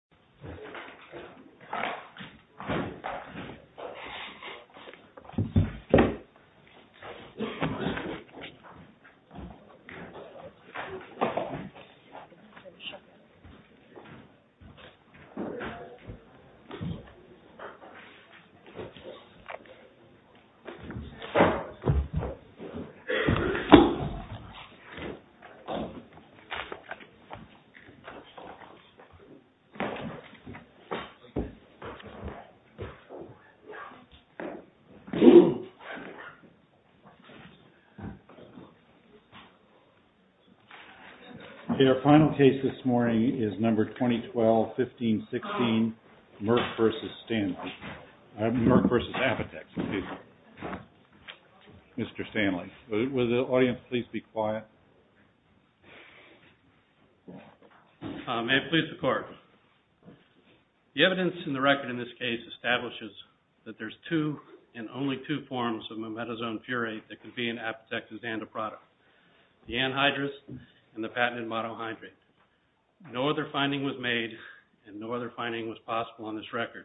The Farley Vs Alcoa The Farley & The Alcoa Fultons Wisconsin The Farley & The Alcoa Merck vs. Apotex May it please the court. The evidence in the record in this case establishes that there's two and only two forms of memetazone furate that can be in Apotex's antiproto. The anhydrous and the patented monohydrate. No other finding was made and no other finding was possible on this record.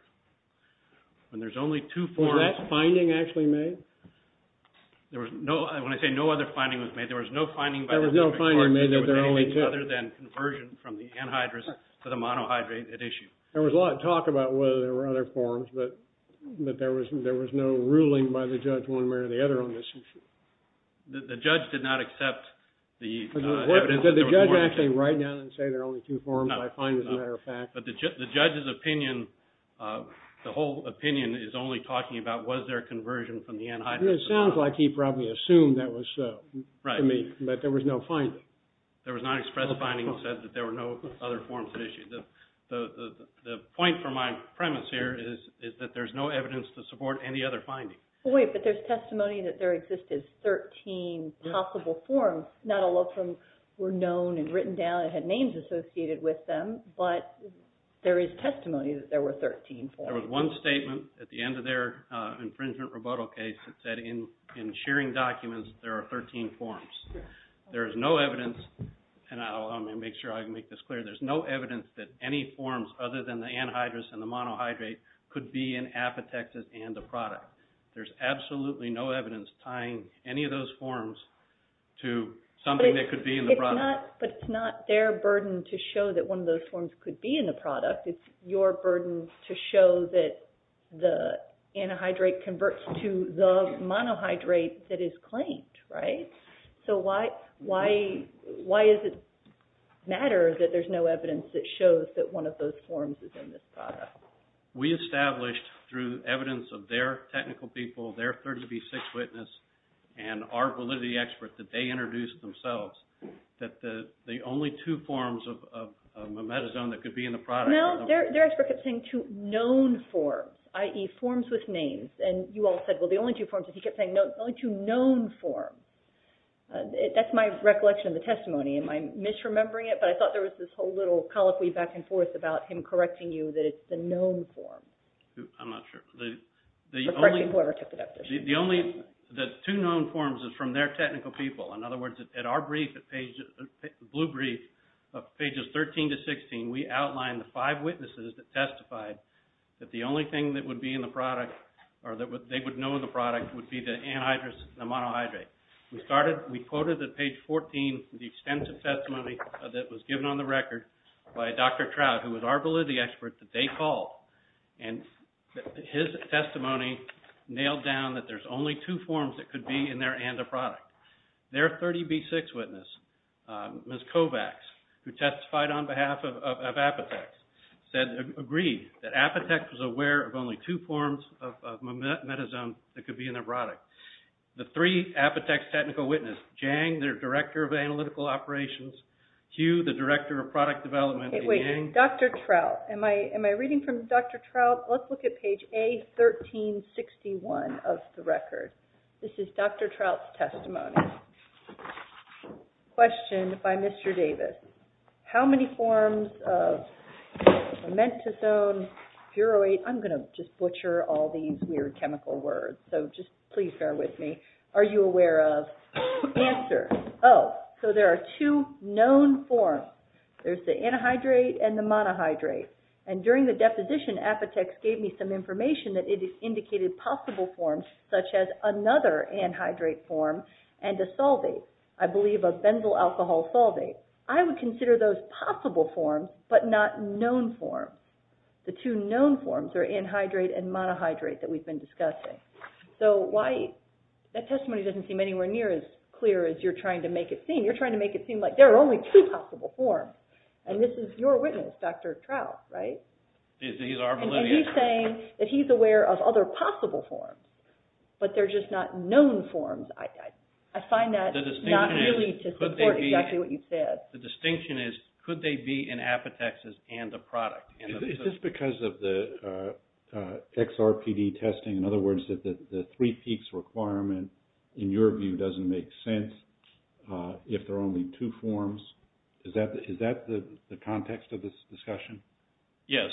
When there's only two forms... Was that finding actually made? There was no, when I say no other finding was made, there was no finding... There was no finding made that there were only two. ...other than conversion from the anhydrous to the monohydrate at issue. There was a lot of talk about whether there were other forms, but there was no ruling by the judge one way or the other on this issue. The judge did not accept the evidence... Did the judge actually write down and say there are only two forms, I find, as a matter of fact? No, but the judge's opinion, the whole opinion is only talking about was there a conversion from the anhydrous to the monohydrate. It sounds like he probably assumed that was so. Right. But there was no finding. There was not expressed finding that said that there were no other forms at issue. The point for my premise here is that there's no evidence to support any other finding. Wait, but there's testimony that there existed 13 possible forms. Not all of them were known and written down and had names associated with them, but there is testimony that there were 13 forms. There was one statement at the end of their infringement rebuttal case that said in sharing documents there are 13 forms. There is no evidence, and I'll make sure I can make this clear. There's no evidence that any forms other than the anhydrous and the monohydrate could be an apotexis and a product. There's absolutely no evidence tying any of those forms to something that could be in the product. But it's not their burden to show that one of those forms could be in the product. It's your burden to show that the anhydrate converts to the monohydrate that is claimed, right? So why does it matter that there's no evidence that shows that one of those forms is in this product? We established through evidence of their technical people, their 30B6 witness, and our validity expert that they introduced themselves that the only two forms of memetazone that could be in the product- No, their expert kept saying two known forms, i.e. forms with names. And you all said, well, the only two forms that he kept saying, the only two known forms. That's my recollection of the testimony. Am I misremembering it? But I thought there was this whole little colloquy back and forth about him correcting you that it's the known form. I'm not sure. The only- Or correcting whoever took it up. The only- the two known forms is from their technical people. In other words, at our brief, the blue brief, pages 13 to 16, we outlined the five witnesses that testified that the only thing that would be in the product or that they would know in the product would be the anhydrous and the monohydrate. We started- we quoted at page 14 the extensive testimony that was given on the record by Dr. Trout, who was our validity expert, that they called. And his testimony nailed down that there's only two forms that could be in there and a product. Their 30B6 witness, Ms. Kovacs, who testified on behalf of Apotex, said- agreed that Apotex was aware of only two forms of memetazone that could be in their product. The three Apotex technical witnesses, Jang, their director of analytical operations, Hugh, the director of product development- Wait, Dr. Trout, am I reading from Dr. Trout? Let's look at page A1361 of the record. This is Dr. Trout's testimony. Question by Mr. Davis. How many forms of memetazone, furoate- I'm going to just butcher all these weird chemical words, so just please bear with me. Are you aware of? Answer. Oh, so there are two known forms. There's the anhydrate and the monohydrate. And during the deposition, Apotex gave me some information that it indicated possible forms, such as another anhydrate form and a solvate. I believe a benzyl alcohol solvate. I would consider those possible forms, but not known forms. The two known forms are anhydrate and monohydrate that we've been discussing. So why- that testimony doesn't seem anywhere near as clear as you're trying to make it seem. You're trying to make it seem like there are only two possible forms. And this is your witness, Dr. Trout, right? He's saying that he's aware of other possible forms, but they're just not known forms. I find that not really to support exactly what you said. The distinction is, could they be in Apotex's and the product? Is this because of the XRPD testing? In other words, the three peaks requirement, in your view, doesn't make sense if there are only two forms? Is that the context of this discussion? Yes.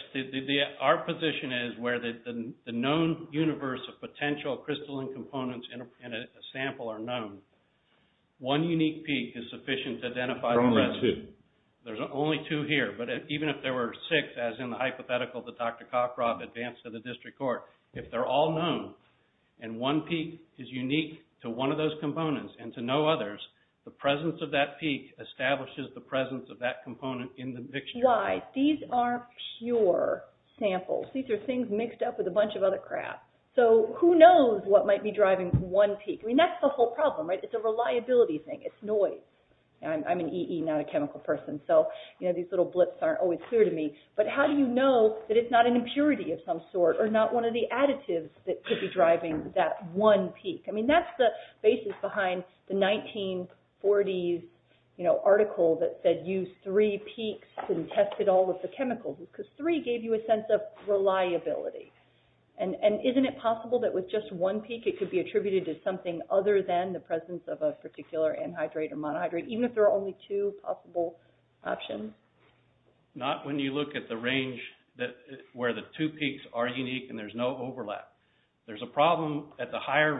Our position is where the known universe of potential crystalline components in a sample are known. One unique peak is sufficient to identify- There are only two. There's only two here. But even if there were six, as in the hypothetical that Dr. Cockrobb advanced to the district court, if they're all known, and one peak is unique to one of those components and to no others, the presence of that peak establishes the presence of that component in the dictionary. These aren't pure samples. These are things mixed up with a bunch of other crap. Who knows what might be driving one peak? That's the whole problem. It's a reliability thing. It's noise. I'm an EE, not a chemical person, so these little blips aren't always clear to me. But how do you know that it's not an impurity of some sort, or not one of the additives that could be driving that one peak? I mean, that's the basis behind the 1940s article that said use three peaks and test it all with the chemicals, because three gave you a sense of reliability. And isn't it possible that with just one peak, it could be attributed to something other than the presence of a particular anhydrate or monohydrate, even if there are only two possible options? Not when you look at the range where the two peaks are unique and there's no overlap. There's a problem at the higher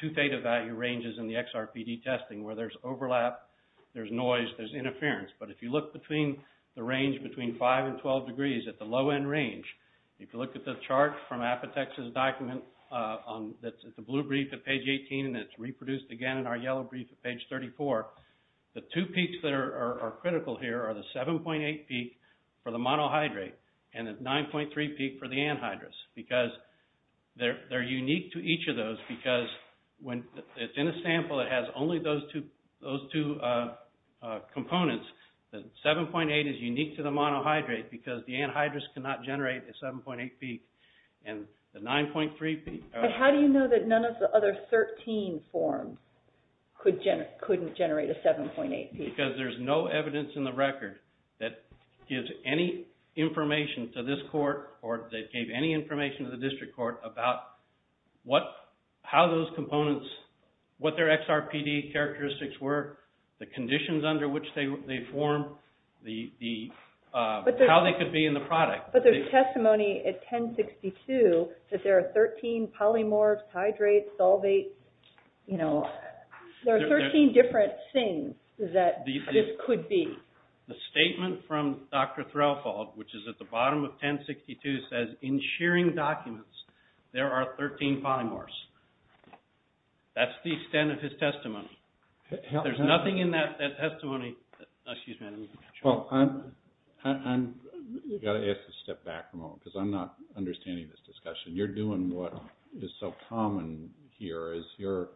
two theta value ranges in the XRPD testing where there's overlap, there's noise, there's interference. But if you look between the range between 5 and 12 degrees at the low end range, if you look at the chart from Apotex's document that's at the blue brief at page 18 and it's reproduced again in our yellow brief at page 34, the two peaks that are critical here are the 7.8 peak for the monohydrate and the 9.3 peak for the anhydrous, because they're unique to each of those because when it's in a sample that has only those two components, the 7.8 is unique to the monohydrate because the anhydrous cannot generate a 7.8 peak, and the 9.3 peak... But how do you know that none of the other 13 forms couldn't generate a 7.8 peak? Because there's no evidence in the record that gives any information to this court or that gave any information to the district court about how those components, what their XRPD characteristics were, the conditions under which they form, how they could be in the product. But there's testimony at 1062 that there are 13 polymorphs, hydrates, solvates, you know, there are 13 different things that this could be. The statement from Dr. Threlfall, which is at the bottom of 1062, says, in shearing documents, there are 13 polymorphs. That's the extent of his testimony. There's nothing in that testimony... Well, I've got to ask you to step back a moment because I'm not understanding this discussion. You're doing what is so common here is you're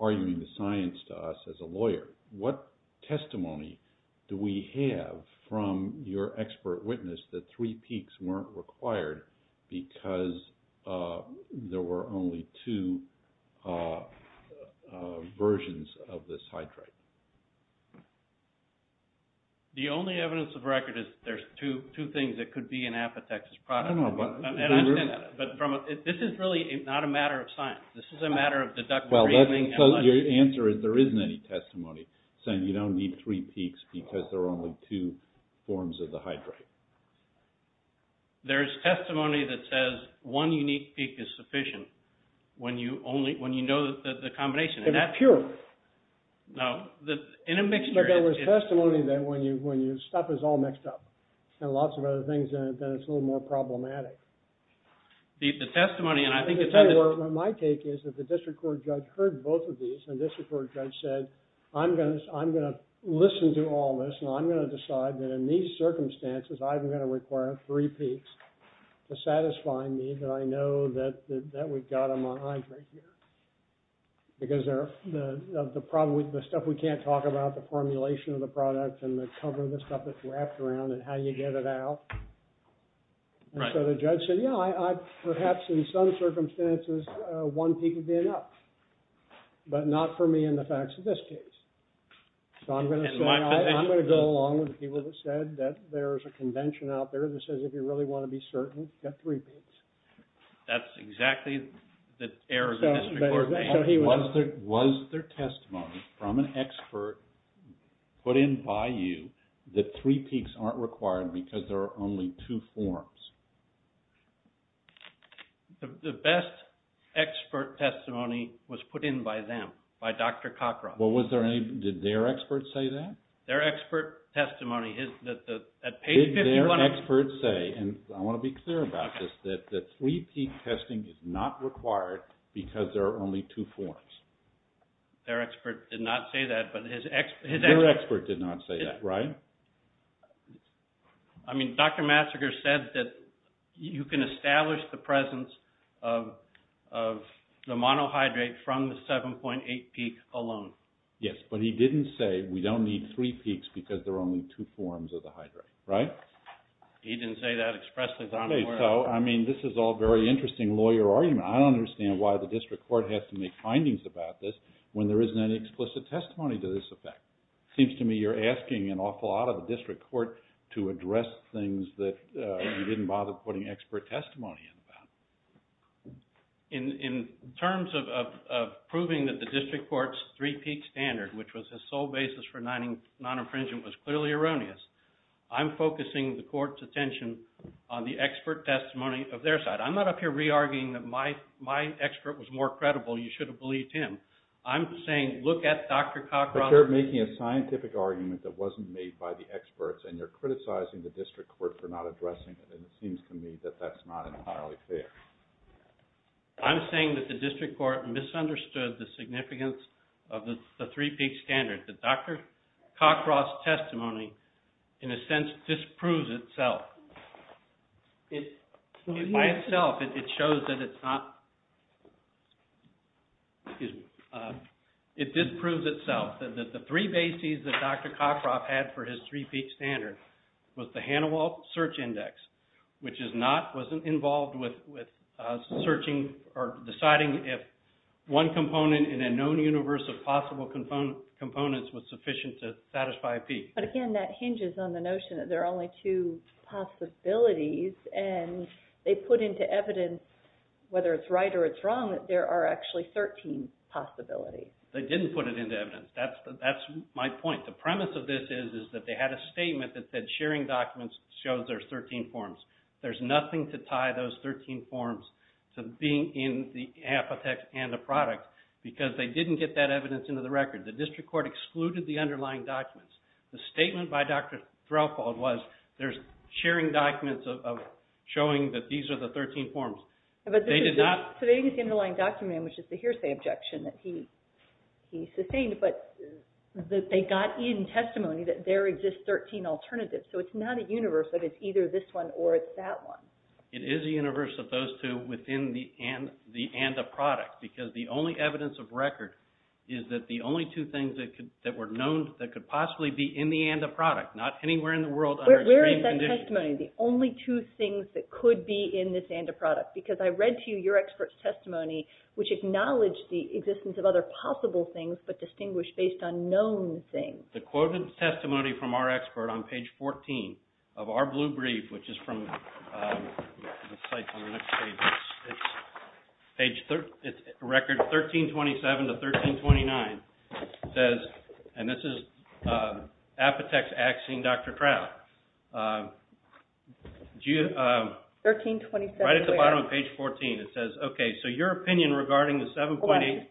arguing the science to us as a lawyer. What testimony do we have from your expert witness that three peaks weren't required because there were only two versions of this hydrate? The only evidence of record is there's two things that could be in Apotex's product. This is really not a matter of science. This is a matter of deductive reasoning. Your answer is there isn't any testimony saying you don't need three peaks because there are only two forms of the hydrate. There's testimony that says one unique peak is sufficient when you know the combination. It's pure. There was testimony that when your stuff is all mixed up and lots of other things in it, then it's a little more problematic. The testimony... My take is that the district court judge heard both of these and the district court judge said I'm going to listen to all this and I'm going to decide that in these circumstances, I'm going to require three peaks to satisfy me that I know that we've got them on hydrate here because the stuff we can't talk about, the formulation of the product and the cover of the stuff that's wrapped around it, how you get it out. And so the judge said, yeah, perhaps in some circumstances, one peak would be enough, but not for me in the facts of this case. So I'm going to say I'm going to go along with the people that said that there's a convention out there that says if you really want to be certain, get three peaks. That's exactly the error the district court made. Was there testimony from an expert put in by you that three peaks aren't required because there are only two forms? The best expert testimony was put in by them, by Dr. Cockroft. Did their experts say that? Their expert testimony... Did their experts say, and I want to be clear about this, that three peak testing is not required because there are only two forms? Their expert did not say that, but his expert... Their expert did not say that, right? I mean, Dr. Massager said that you can establish the presence of the monohydrate from the 7.8 peak alone. Yes, but he didn't say we don't need three peaks because there are only two forms of the hydrate, right? He didn't say that expressly. I mean, this is all very interesting lawyer argument. I don't understand why the district court has to make findings about this when there isn't any explicit testimony to this effect. It seems to me you're asking an awful lot of the district court to address things that you didn't bother putting expert testimony in about. In terms of proving that the district court's three peak standard, which was the sole basis for non-infringement, was clearly erroneous. I'm focusing the court's attention on the expert testimony of their side. I'm not up here re-arguing that my expert was more credible. You should have believed him. I'm saying look at Dr. Cockcroft... But you're making a scientific argument that wasn't made by the experts and you're criticizing the district court for not addressing it and it seems to me that that's not entirely fair. I'm saying that the district court misunderstood the significance of the three peak standard. That Dr. Cockcroft's testimony, in a sense, disproves itself. By itself, it shows that it's not... It disproves itself. The three bases that Dr. Cockcroft had for his three peak standard was the Hanawalt Search Index, which wasn't involved with deciding if one component in a known universe of possible components was sufficient to satisfy a peak. But again, that hinges on the notion that there are only two possibilities and they put into evidence, whether it's right or it's wrong, that there are actually 13 possibilities. They didn't put it into evidence. That's my point. The premise of this is that they had a statement that said sharing documents shows there's 13 forms. There's nothing to tie those 13 forms to being in the apothecary and a product because they didn't get that evidence into the record. The district court excluded the underlying documents. The statement by Dr. Threlfall was there's sharing documents showing that these are the 13 forms. They did not... So they used the underlying document, which is the hearsay objection that he sustained, but they got in testimony that there exist 13 alternatives. So it's not a universe that it's either this one or it's that one. It is a universe of those two within the and a product because the only evidence of record is that the only two things that were known that could possibly be in the and a product, not anywhere in the world under extreme conditions. Where is that testimony? The only two things that could be in this and a product? Because I read to you your expert's testimony, which acknowledged the existence of other possible things but distinguished based on known things. The quoted testimony from our expert on page 14 of our blue brief, which is from the site on the next page. It's record 1327 to 1329. It says, and this is Apotex Axine, Dr. Threl. Right at the bottom of page 14, it says, okay, so your opinion regarding the 7.8... Hold on,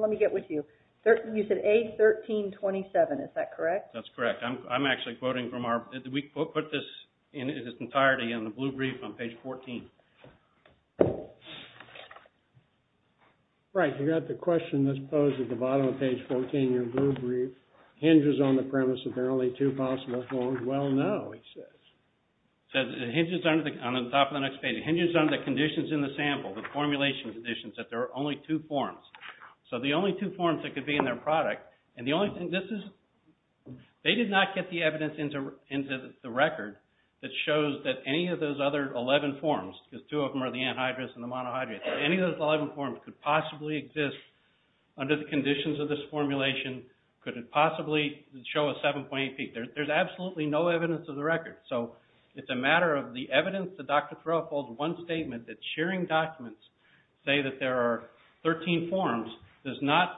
let me get with you. You said age 1327, is that correct? That's correct. I'm actually quoting from our... We put this in its entirety in the blue brief on page 14. Right, you got the question that's posed at the bottom of page 14. Your blue brief hinges on the premise that there are only two possible forms. Well, no, it says. It hinges on the top of the next page. It hinges on the conditions in the sample, the formulation conditions that there are only two forms. So the only two forms that could be in their product, and the only thing this is... They did not get the evidence into the record that shows that any of those other 11 forms, because two of them are the anhydrous and the monohydrate. Any of those 11 forms could possibly exist under the conditions of this formulation. Could it possibly show a 7.8 peak? There's absolutely no evidence of the record. So it's a matter of the evidence that Dr. Threl holds one statement that sharing documents say that there are 13 forms does not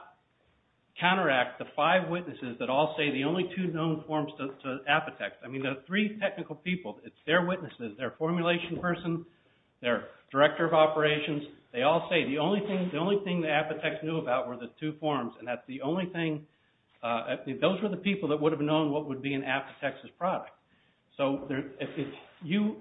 counteract the five witnesses that all say the only two known forms to Apotex. I mean, there are three technical people. It's their witnesses, their formulation person, their director of operations. They all say the only thing that Apotex knew about were the two forms, and that's the only thing... Those were the people that would have known what would be in Apotex's product. So if you...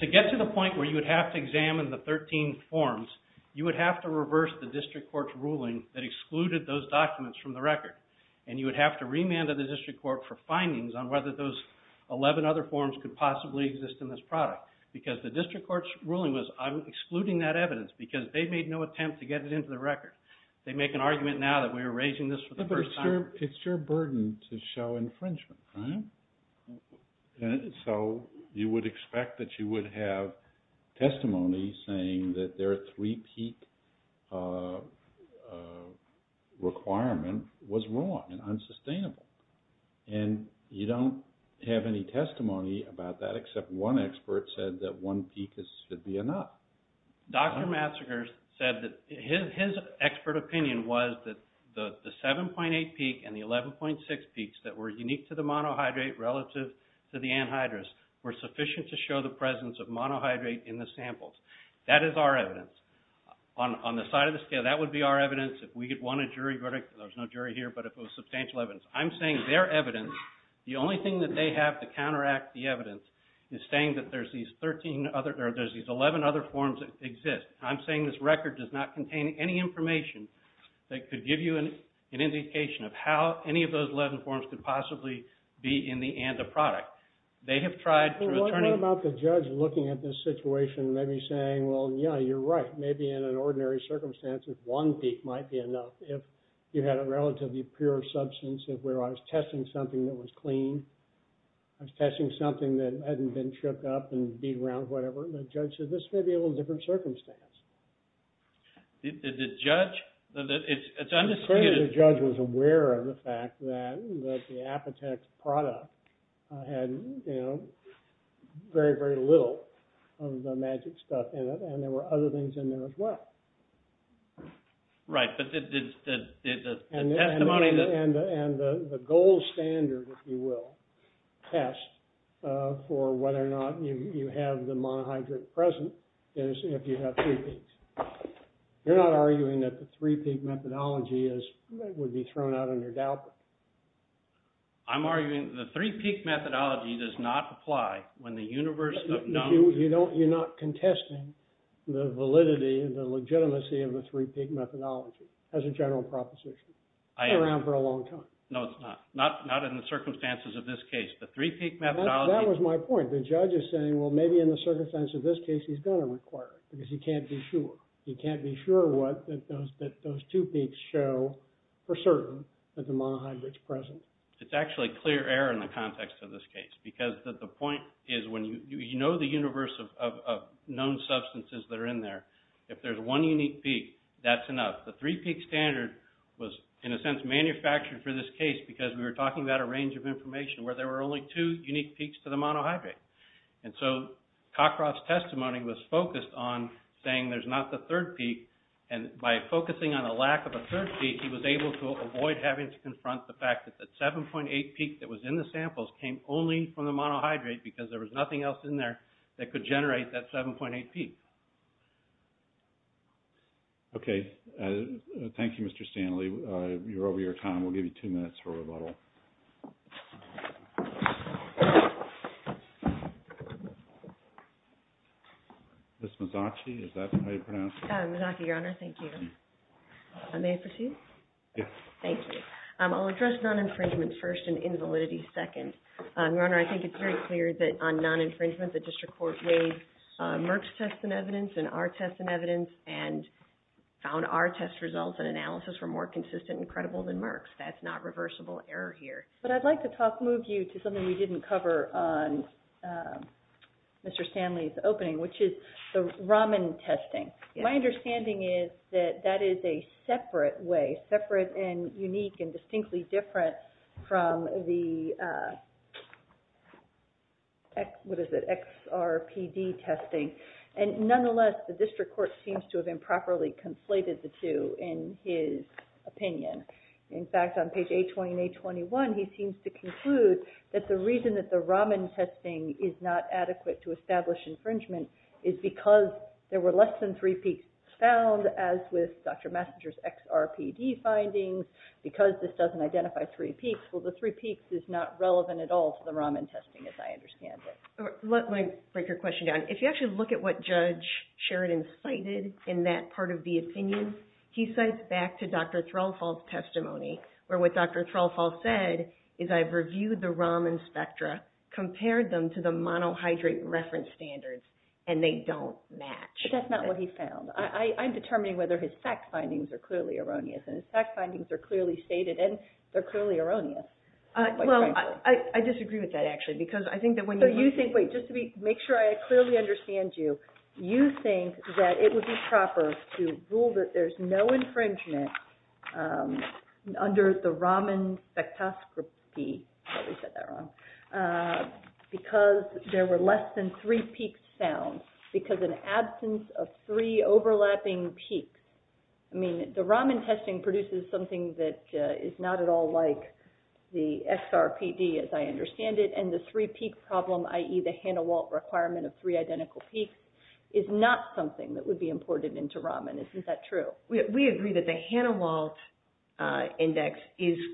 To get to the point where you would have to examine the 13 forms, you would have to reverse the district court's ruling that excluded those documents from the record, and you would have to remand to the district court for findings on whether those 11 other forms could possibly exist in this product, because the district court's ruling was, I'm excluding that evidence because they made no attempt to get it into the record. They make an argument now that we're erasing this for the first time. But it's your burden to show infringement, right? So you would expect that you would have testimony saying that their three-peak requirement was wrong and unsustainable. And you don't have any testimony about that, except one expert said that one peak should be enough. Dr. Matsinger said that his expert opinion was that the 7.8 peak and the 11.6 peaks that were unique to the monohydrate relative to the anhydrous were sufficient to show the presence of monohydrate in the samples. That is our evidence. On the side of the scale, that would be our evidence. If we had won a jury verdict, there's no jury here, but if it was substantial evidence. I'm saying their evidence, the only thing that they have to counteract the evidence, is saying that there's these 11 other forms that exist. I'm saying this record does not contain any information that could give you an indication of how any of those 11 forms could possibly be in the ANDA product. They have tried to return... Maybe saying, well, yeah, you're right. Maybe in an ordinary circumstance, one peak might be enough. If you had a relatively pure substance, where I was testing something that was clean, I was testing something that hadn't been shook up and beat around whatever, the judge said, this may be a little different circumstance. Did the judge... It's unclear if the judge was aware of the fact that the Apotex product had, you know, very, very little of the magic stuff in it, and there were other things in there as well. Right, but the testimony that... And the gold standard, if you will, test for whether or not you have the monohydrate present is if you have three peaks. You're not arguing that the three-peak methodology would be thrown out under doubt? I'm arguing the three-peak methodology does not apply when the universe of known... You're not contesting the validity and the legitimacy of the three-peak methodology as a general proposition. I am. It's been around for a long time. No, it's not. Not in the circumstances of this case. The three-peak methodology... That was my point. The judge is saying, well, maybe in the circumstance of this case, he's going to require it because he can't be sure. He can't be sure what those two peaks show for certain that the monohydrate's present. It's actually clear error in the context of this case because the point is when you know the universe of known substances that are in there, if there's one unique peak, that's enough. The three-peak standard was, in a sense, manufactured for this case because we were talking about a range of information where there were only two unique peaks to the monohydrate. And so Cockcroft's testimony was focused on saying there's not the third peak. And by focusing on a lack of a third peak, he was able to avoid having to confront the fact that 7.8 peak that was in the samples came only from the monohydrate because there was nothing else in there that could generate that 7.8 peak. Okay. Thank you, Mr. Stanley. You're over your time. We'll give you two minutes for rebuttal. Ms. Mazzocchi, is that how you pronounce it? Mazzocchi, Your Honor. Thank you. May I proceed? Yes. Thank you. I'll address non-infringement first and invalidity second. Your Honor, I think it's very clear that on non-infringement, the district court weighed Merck's test and evidence and our test and evidence and found our test results and analysis were more consistent and credible than Merck's. That's not reversible error here. But I'd like to move you to something we didn't cover on Mr. Stanley's opening, which is the Raman testing. My understanding is that that is a separate way, separate and unique and distinctly different from the XRPD testing. And nonetheless, the district court seems to have improperly conflated the two in his opinion. In fact, on page 820 and 821, he seems to conclude that the reason that the Raman testing is not adequate to establish infringement is because there were less than three peaks found, as with Dr. Messinger's XRPD findings, because this doesn't identify three peaks. Well, the three peaks is not relevant at all to the Raman testing, as I understand it. Let me break your question down. If you actually look at what Judge Sheridan cited in that part of the opinion, he cites back to Dr. Threlfall's testimony, where what Dr. Threlfall said is, I've reviewed the Raman spectra, compared them to the monohydrate reference standards, and they don't match. But that's not what he found. I'm determining whether his fact findings are clearly erroneous, and his fact findings are clearly stated, and they're clearly erroneous. Well, I disagree with that, actually, because I think that when you look at it So you think, wait, just to make sure I clearly understand you, you think that it would be proper to rule that there's no infringement under the Raman spectroscopy, I probably said that wrong, because there were less than three peaks found, because an absence of three overlapping peaks. I mean, the Raman testing produces something that is not at all like the SRPD, as I understand it, and the three peak problem, i.e., the Hanawalt requirement of three identical peaks, is not something that would be imported into Raman. Isn't that true? We agree that the Hanawalt index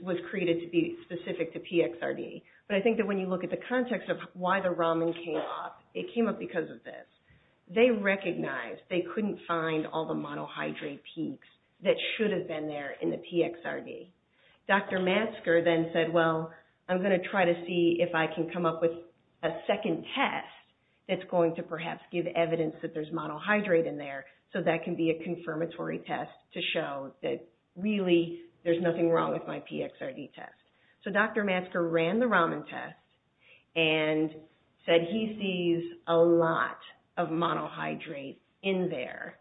was created to be specific to PXRD. But I think that when you look at the context of why the Raman came up, it came up because of this. They recognized they couldn't find all the monohydrate peaks that should have been there in the PXRD. Dr. Matsker then said, well, I'm going to try to see if I can come up with a second test that's going to perhaps give evidence that there's monohydrate in there, so that can be a confirmatory test to show that, really, there's nothing wrong with my PXRD test. So Dr. Matsker ran the Raman test and said he sees a lot of monohydrate in there.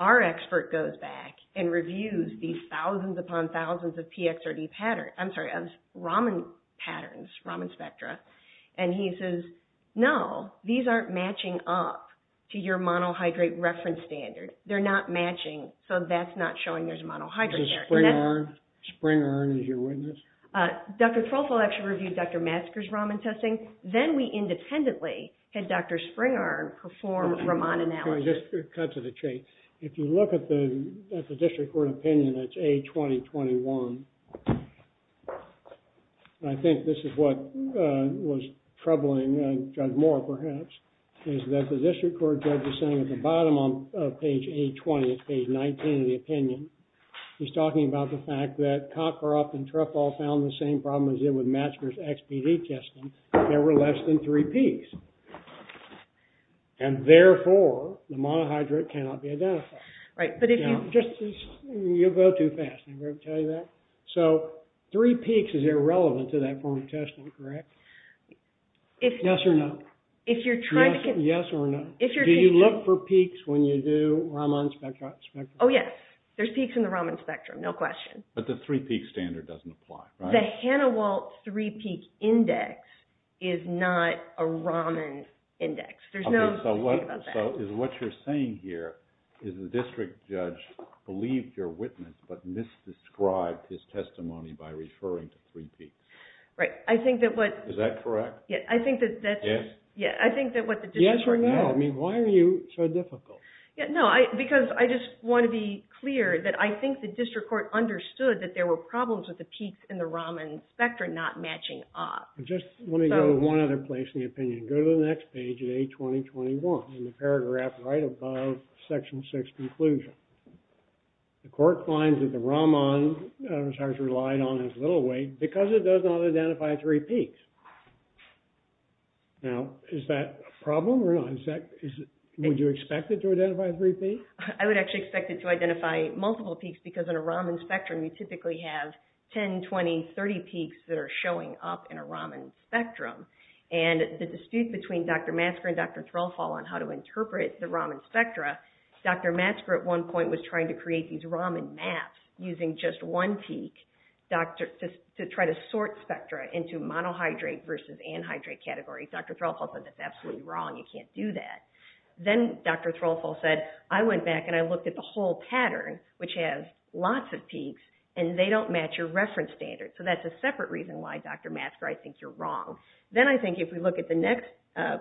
Our expert goes back and reviews these thousands upon thousands of PXRD patterns, I'm sorry, of Raman patterns, Raman spectra, and he says, no, these aren't matching up to your monohydrate reference standard. They're not matching, so that's not showing there's monohydrate there. Springarn? Springarn is your witness? Dr. Trolfo actually reviewed Dr. Matsker's Raman testing. Then we independently had Dr. Springarn perform Raman analysis. Sorry, just cut to the chase. If you look at the district court opinion, that's A-20-21. I think this is what was troubling Judge Moore, perhaps, is that the district court judge is saying at the bottom of page A-20, page 19 of the opinion, he's talking about the fact that Cockcroft and Truffall found the same problem as did with Matsker's XPD testing. There were less than three peaks. And therefore, the monohydrate cannot be identified. Right, but if you... You'll go too fast, I'm going to tell you that. So three peaks is irrelevant to that form of testing, correct? Yes or no? If you're trying to... Yes or no? Do you look for peaks when you do Raman spectrum? Oh, yes. There's peaks in the Raman spectrum, no question. But the three peak standard doesn't apply, right? The Hanawalt three peak index is not a Raman index. There's no... So what you're saying here is the district judge believed your witness but misdescribed his testimony by referring to three peaks. Right. I think that what... Is that correct? Yes. Yeah, I think that what the district court... Yes or no? I mean, why are you so difficult? No, because I just want to be clear that I think the district court understood that there were problems with the peaks in the Raman spectrum not matching up. Just let me go to one other place in the opinion. Go to the next page at 820.21 in the paragraph right above section 6 conclusion. The court finds that the Raman was relied on as little weight because it does not identify three peaks. Now, is that a problem or not? Would you expect it to identify three peaks? I would actually expect it to identify multiple peaks because in a Raman spectrum you typically have 10, 20, 30 peaks that are showing up in a Raman spectrum. And the dispute between Dr. Matsker and Dr. Threlfall on how to interpret the Raman spectra, Dr. Matsker at one point was trying to create these Raman maps using just one peak to try to sort spectra into monohydrate versus anhydrate category. Dr. Threlfall said, that's absolutely wrong, you can't do that. Then Dr. Threlfall said, I went back and I looked at the whole pattern which has lots of peaks and they don't match your reference standard. So that's a separate reason why, Dr. Matsker, I think you're wrong. Then I think if we look at the next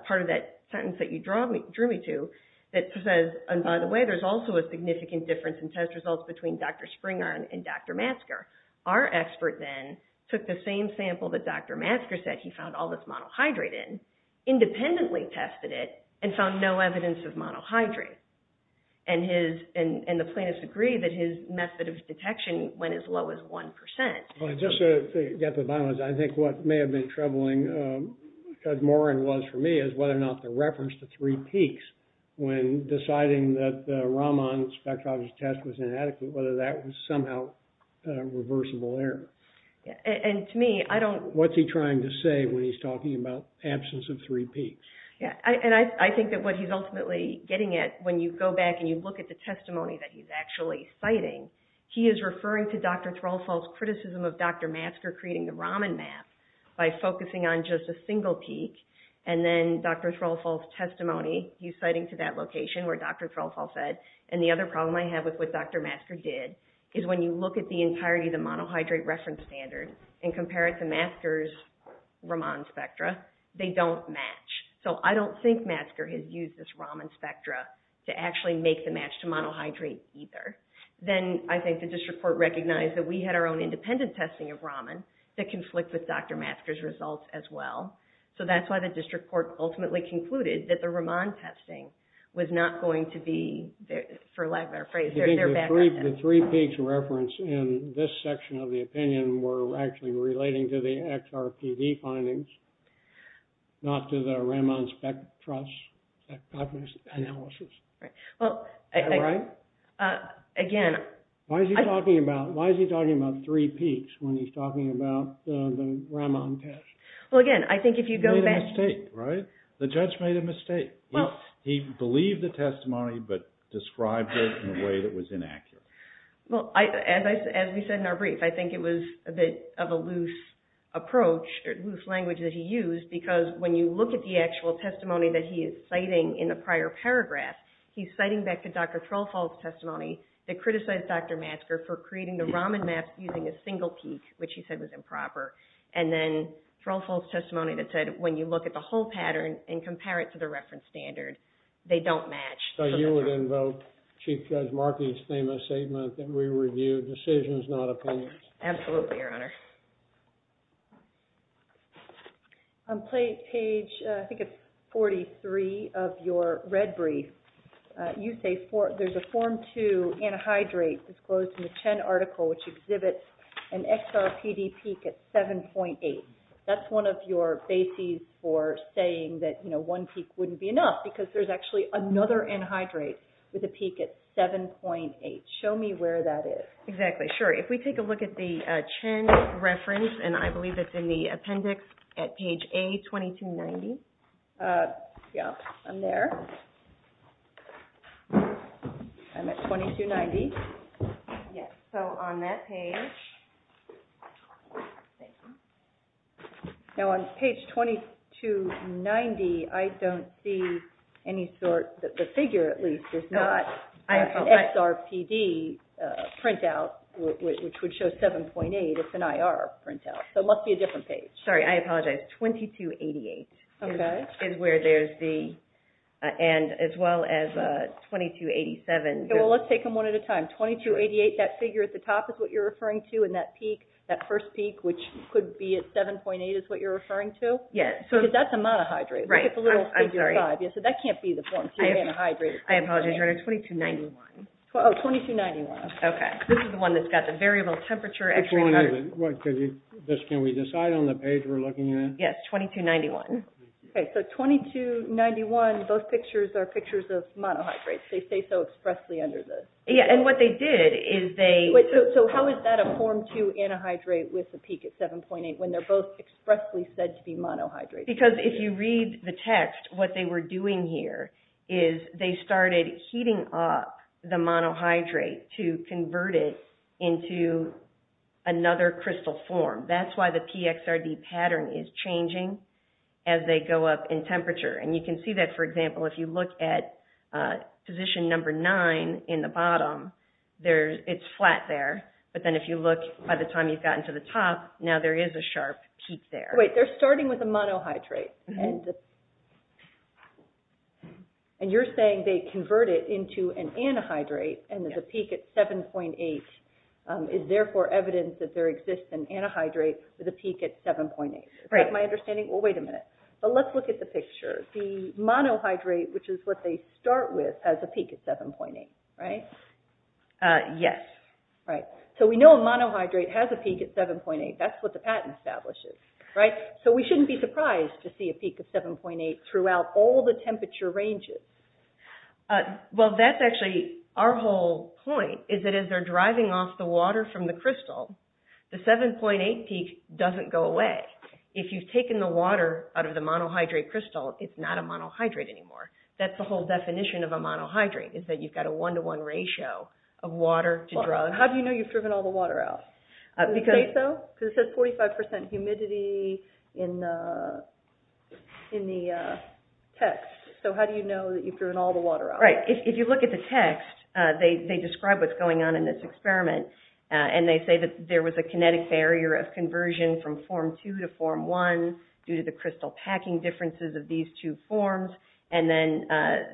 part of that sentence that you drew me to that says, and by the way, there's also a significant difference in test results between Dr. Springer and Dr. Matsker. Our expert then took the same sample that Dr. Matsker said he found all this monohydrate in, independently tested it and found no evidence of monohydrate. And the plaintiffs agree that his method of detection went as low as 1%. Just to get the balance, I think what may have been troubling, because Morin was for me, is whether or not the reference to three peaks when deciding that the Raman spectrology test was inadequate, whether that was somehow reversible error. And to me, I don't... What's he trying to say when he's talking about absence of three peaks? Yeah, and I think that what he's ultimately getting at, when you go back and you look at the testimony that he's actually citing, he is referring to Dr. Threlfall's criticism of Dr. Matsker creating the Raman map by focusing on just a single peak. And then Dr. Threlfall's testimony, he's citing to that location where Dr. Threlfall said, and the other problem I have with what Dr. Matsker did, is when you look at the entirety of the monohydrate reference standard and compare it to Matsker's Raman spectra, they don't match. So I don't think Matsker has used this Raman spectra to actually make the match to monohydrate either. Then I think the district court recognized that we had our own independent testing of Raman that conflicted with Dr. Matsker's results as well. So that's why the district court ultimately concluded that the Raman testing was not going to be, for lack of a better phrase, their background test. The three peaks referenced in this section of the opinion were actually relating to the XRPD findings, not to the Raman spectra analysis. Right. Am I right? Again... Why is he talking about three peaks when he's talking about the Raman test? Well, again, I think if you go back... He made a mistake, right? The judge made a mistake. He believed the testimony, but described it in a way that was inaccurate. Well, as we said in our brief, I think it was a bit of a loose approach, or loose language that he used, because when you look at the actual testimony that he is citing in the prior paragraph, he's citing back to Dr. Trollfall's testimony that criticized Dr. Matsker for creating the Raman map using a single peak, which he said was improper. And then Trollfall's testimony that said, when you look at the whole pattern and compare it to the reference standard, they don't match. So you would invoke Chief Judge Markey's famous statement that we review decisions, not opinions. Absolutely, Your Honor. On page, I think it's 43, of your red brief, you say there's a Form 2 antihydrate disclosed in the Chen article, which exhibits an XRPD peak at 7.8. That's one of your bases for saying that one peak wouldn't be enough, because there's actually another antihydrate with a peak at 7.8. Show me where that is. Exactly, sure. If we take a look at the Chen reference, and I believe it's in the appendix at page A, 2290. Yeah, I'm there. I'm at 2290. Yes, so on that page. Now on page 2290, I don't see any sort, the figure at least, is not an XRPD printout, which would show 7.8. It's an IR printout, so it must be a different page. Sorry, I apologize. 2288 is where there's the, and as well as 2287. Well, let's take them one at a time. 2288, that figure at the top is what you're referring to, and that peak, that first peak, which could be at 7.8 is what you're referring to? Yes. Because that's a monohydrate. Right, I'm sorry. So that can't be the Form 2 antihydrate. I apologize, your order is 2291. Oh, 2291, okay. This is the one that's got the variable temperature. Which one is it? Can we decide on the page we're looking at? Yes, 2291. Okay, so 2291, both pictures are pictures of monohydrates. They say so expressly under this. Yeah, and what they did is they... So how is that a Form 2 antihydrate with a peak at 7.8 when they're both expressly said to be monohydrates? Because if you read the text, what they were doing here is they started heating up the monohydrate to convert it into another crystal form. That's why the PXRD pattern is changing as they go up in temperature. You can see that, for example, if you look at position number 9 in the bottom, it's flat there. But then if you look, by the time you've gotten to the top, now there is a sharp peak there. Wait, they're starting with a monohydrate. And you're saying they convert it into an antihydrate and there's a peak at 7.8. Is therefore evidence that there exists an antihydrate with a peak at 7.8. Is that my understanding? Well, wait a minute. But let's look at the picture. The monohydrate, which is what they start with, has a peak at 7.8, right? Yes. Right. So we know a monohydrate has a peak at 7.8. That's what the pattern establishes, right? So we shouldn't be surprised to see a peak of 7.8 throughout all the temperature ranges. Well, that's actually our whole point, is that as they're driving off the water from the crystal, the 7.8 peak doesn't go away. But if you've taken the water out of the monohydrate crystal, it's not a monohydrate anymore. That's the whole definition of a monohydrate, is that you've got a one-to-one ratio of water to drug. How do you know you've driven all the water out? Can you say so? Because it says 45% humidity in the text. So how do you know that you've driven all the water out? Right. If you look at the text, they describe what's going on in this experiment. And they say that there was a kinetic barrier of conversion from Form II to Form I due to the crystal packing differences of these two forms. And then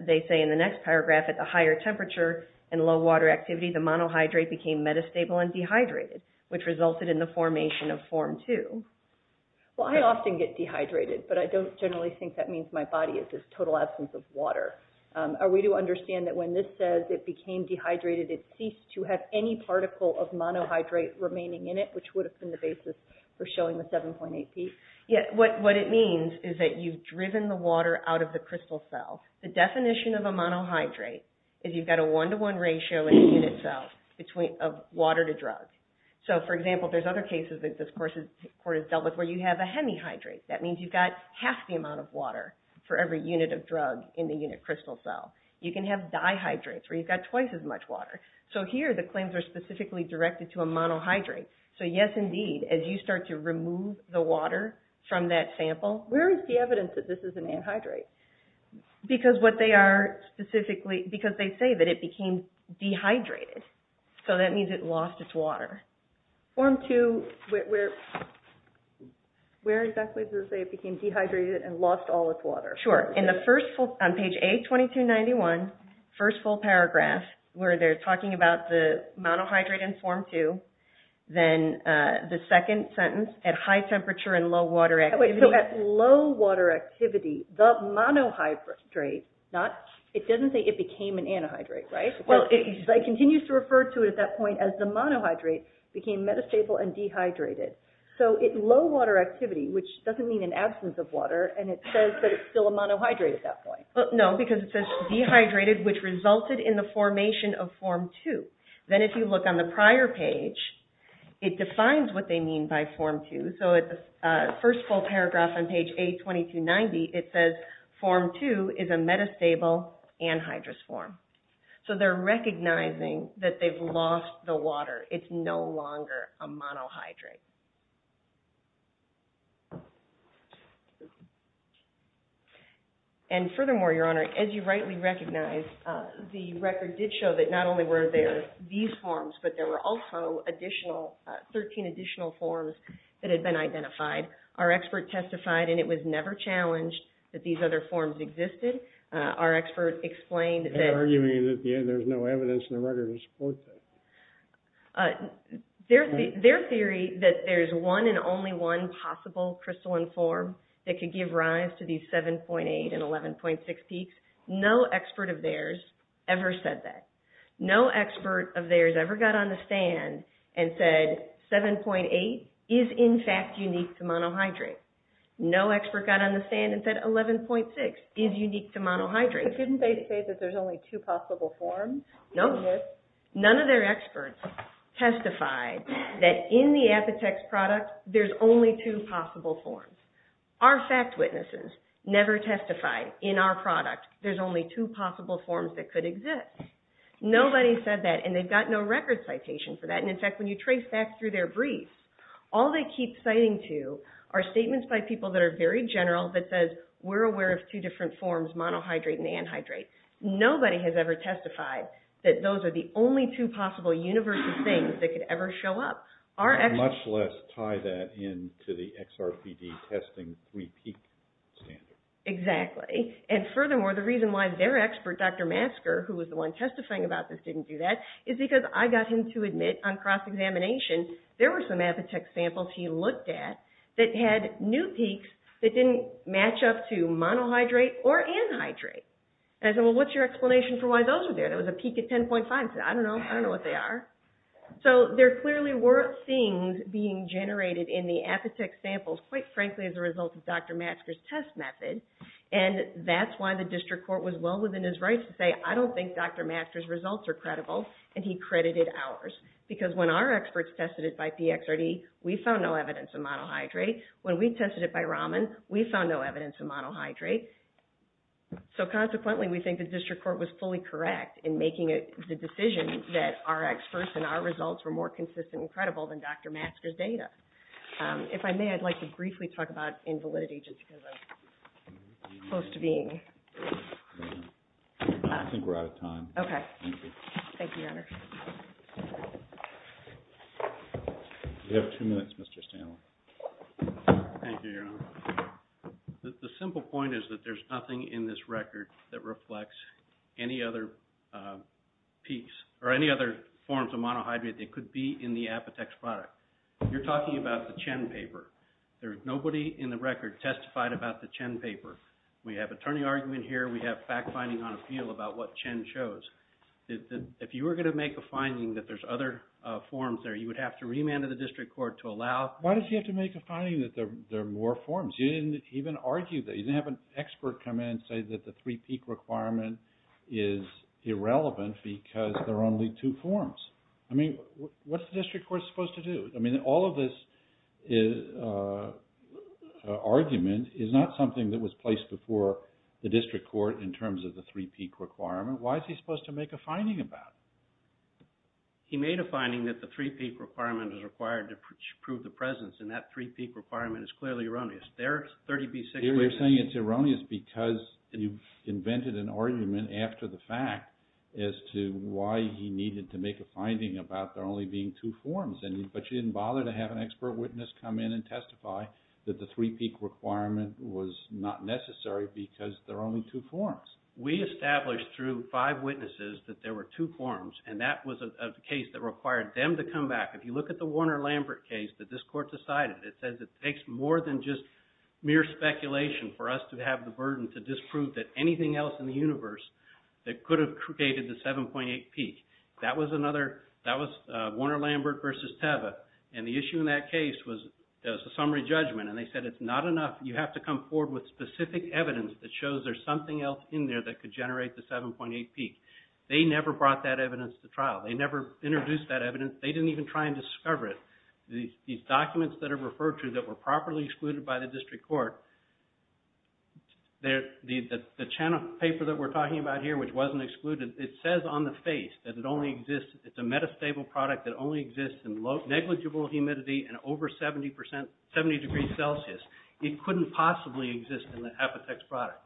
they say in the next paragraph, at the higher temperature and low water activity, the monohydrate became metastable and dehydrated, which resulted in the formation of Form II. Well, I often get dehydrated, but I don't generally think that means my body is this total absence of water. Are we to understand that when this says it became dehydrated, it ceased to have any particle of monohydrate remaining in it, which would have been the basis for showing the 7.8P? Yeah. What it means is that you've driven the water out of the crystal cell. The definition of a monohydrate is you've got a one-to-one ratio in a unit cell of water to drug. So, for example, there's other cases that this court has dealt with where you have a hemihydrate. That means you've got half the amount of water for every unit of drug in the unit crystal cell. You can have dihydrates, where you've got twice as much water. So, here, the claims are specifically directed to a monohydrate. So, yes, indeed, as you start to remove the water from that sample. Where is the evidence that this is an anhydrate? Because they say that it became dehydrated. So, that means it lost its water. Form II, where exactly does it say it became dehydrated and lost all its water? Sure. On page A2291, first full paragraph, where they're talking about the monohydrate in Form II, then the second sentence, at high temperature and low water activity. So, at low water activity, the monohydrate, it doesn't say it became an anhydrate, right? Well, it continues to refer to it at that point as the monohydrate became metastable and dehydrated. So, at low water activity, which doesn't mean an absence of water, and it says that it's still a monohydrate at that point. No, because it says dehydrated, which resulted in the formation of Form II. Then, if you look on the prior page, it defines what they mean by Form II. So, at the first full paragraph on page A2290, it says Form II is a metastable anhydrous form. So, they're recognizing that they've lost the water. It's no longer a monohydrate. And furthermore, Your Honor, as you rightly recognize, the record did show that not only were there these forms, but there were also 13 additional forms that had been identified. Our expert testified, and it was never challenged, that these other forms existed. Our expert explained that— their theory that there's one and only one possible crystalline form that could give rise to these 7.8 and 11.6 peaks, no expert of theirs ever said that. No expert of theirs ever got on the stand and said 7.8 is, in fact, unique to monohydrate. No expert got on the stand and said 11.6 is unique to monohydrate. But didn't they say that there's only two possible forms? No. None of their experts testified that in the Apitex product, there's only two possible forms. Our fact witnesses never testified in our product, there's only two possible forms that could exist. Nobody said that, and they've got no record citation for that. And, in fact, when you trace back through their briefs, all they keep citing to are statements by people that are very general that says, we're aware of two different forms, monohydrate and anhydrate. Nobody has ever testified that those are the only two possible universal things that could ever show up. Much less tie that into the XRPD testing three peak standard. Exactly. And, furthermore, the reason why their expert, Dr. Masker, who was the one testifying about this, didn't do that, is because I got him to admit on cross-examination, there were some Apitex samples he looked at that had new peaks that didn't match up to monohydrate or anhydrate. And I said, well, what's your explanation for why those are there? There was a peak at 10.5. He said, I don't know. I don't know what they are. So there clearly were things being generated in the Apitex samples, quite frankly, as a result of Dr. Masker's test method. And that's why the district court was well within his rights to say, I don't think Dr. Masker's results are credible, and he credited ours. Because when our experts tested it by PXRD, we found no evidence of monohydrate. When we tested it by Raman, we found no evidence of monohydrate. So consequently, we think the district court was fully correct in making the decision that our experts and our results were more consistent and credible than Dr. Masker's data. If I may, I'd like to briefly talk about invalidity just because I'm close to being. I think we're out of time. Okay. Thank you, Your Honor. You have two minutes, Mr. Stanley. Thank you, Your Honor. The simple point is that there's nothing in this record that reflects any other piece or any other forms of monohydrate that could be in the Apitex product. You're talking about the Chen paper. There's nobody in the record testified about the Chen paper. We have attorney argument here. We have fact-finding on appeal about what Chen shows. If you were going to make a finding that there's other forms there, you would have to remand to the district court to allow. Why does he have to make a finding that there are more forms? He didn't even argue that. He didn't have an expert come in and say that the three-peak requirement is irrelevant because there are only two forms. I mean, what's the district court supposed to do? I mean, all of this argument is not something that was placed before the district court in terms of the three-peak requirement. Why is he supposed to make a finding about it? He made a finding that the three-peak requirement is required to prove the presence, and that three-peak requirement is clearly erroneous. There are 36 witnesses. You're saying it's erroneous because you invented an argument after the fact as to why he needed to make a finding about there only being two forms, but you didn't bother to have an expert witness come in and testify that the three-peak requirement was not necessary because there are only two forms. We established through five witnesses that there were two forms, and that was a case that required them to come back. If you look at the Warner-Lambert case that this court decided, it says it takes more than just mere speculation for us to have the burden to disprove that anything else in the universe that could have created the 7.8 peak. That was Warner-Lambert v. Teva, and the issue in that case was a summary judgment, and they said it's not enough. You have to come forward with specific evidence that shows there's something else in there that could generate the 7.8 peak. They never brought that evidence to trial. They never introduced that evidence. They didn't even try and discover it. These documents that are referred to that were properly excluded by the district court, the channel paper that we're talking about here, which wasn't excluded, it says on the face that it only exists, it's a metastable product that only exists in negligible humidity and over 70 degrees Celsius. It couldn't possibly exist in the Apotex product.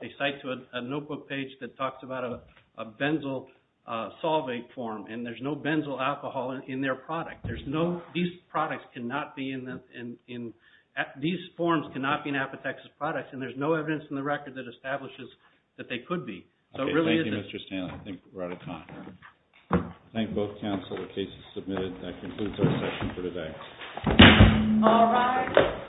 They cite to a notebook page that talks about a benzyl solvate form, and there's no benzyl alcohol in their product. There's no, these products cannot be in the, these forms cannot be in Apotex's products, and there's no evidence in the record that establishes that they could be. So it really isn't. Thank you, Mr. Stanley. I think we're out of time. I thank both counsel. The case is submitted. That concludes our session for today. All rise.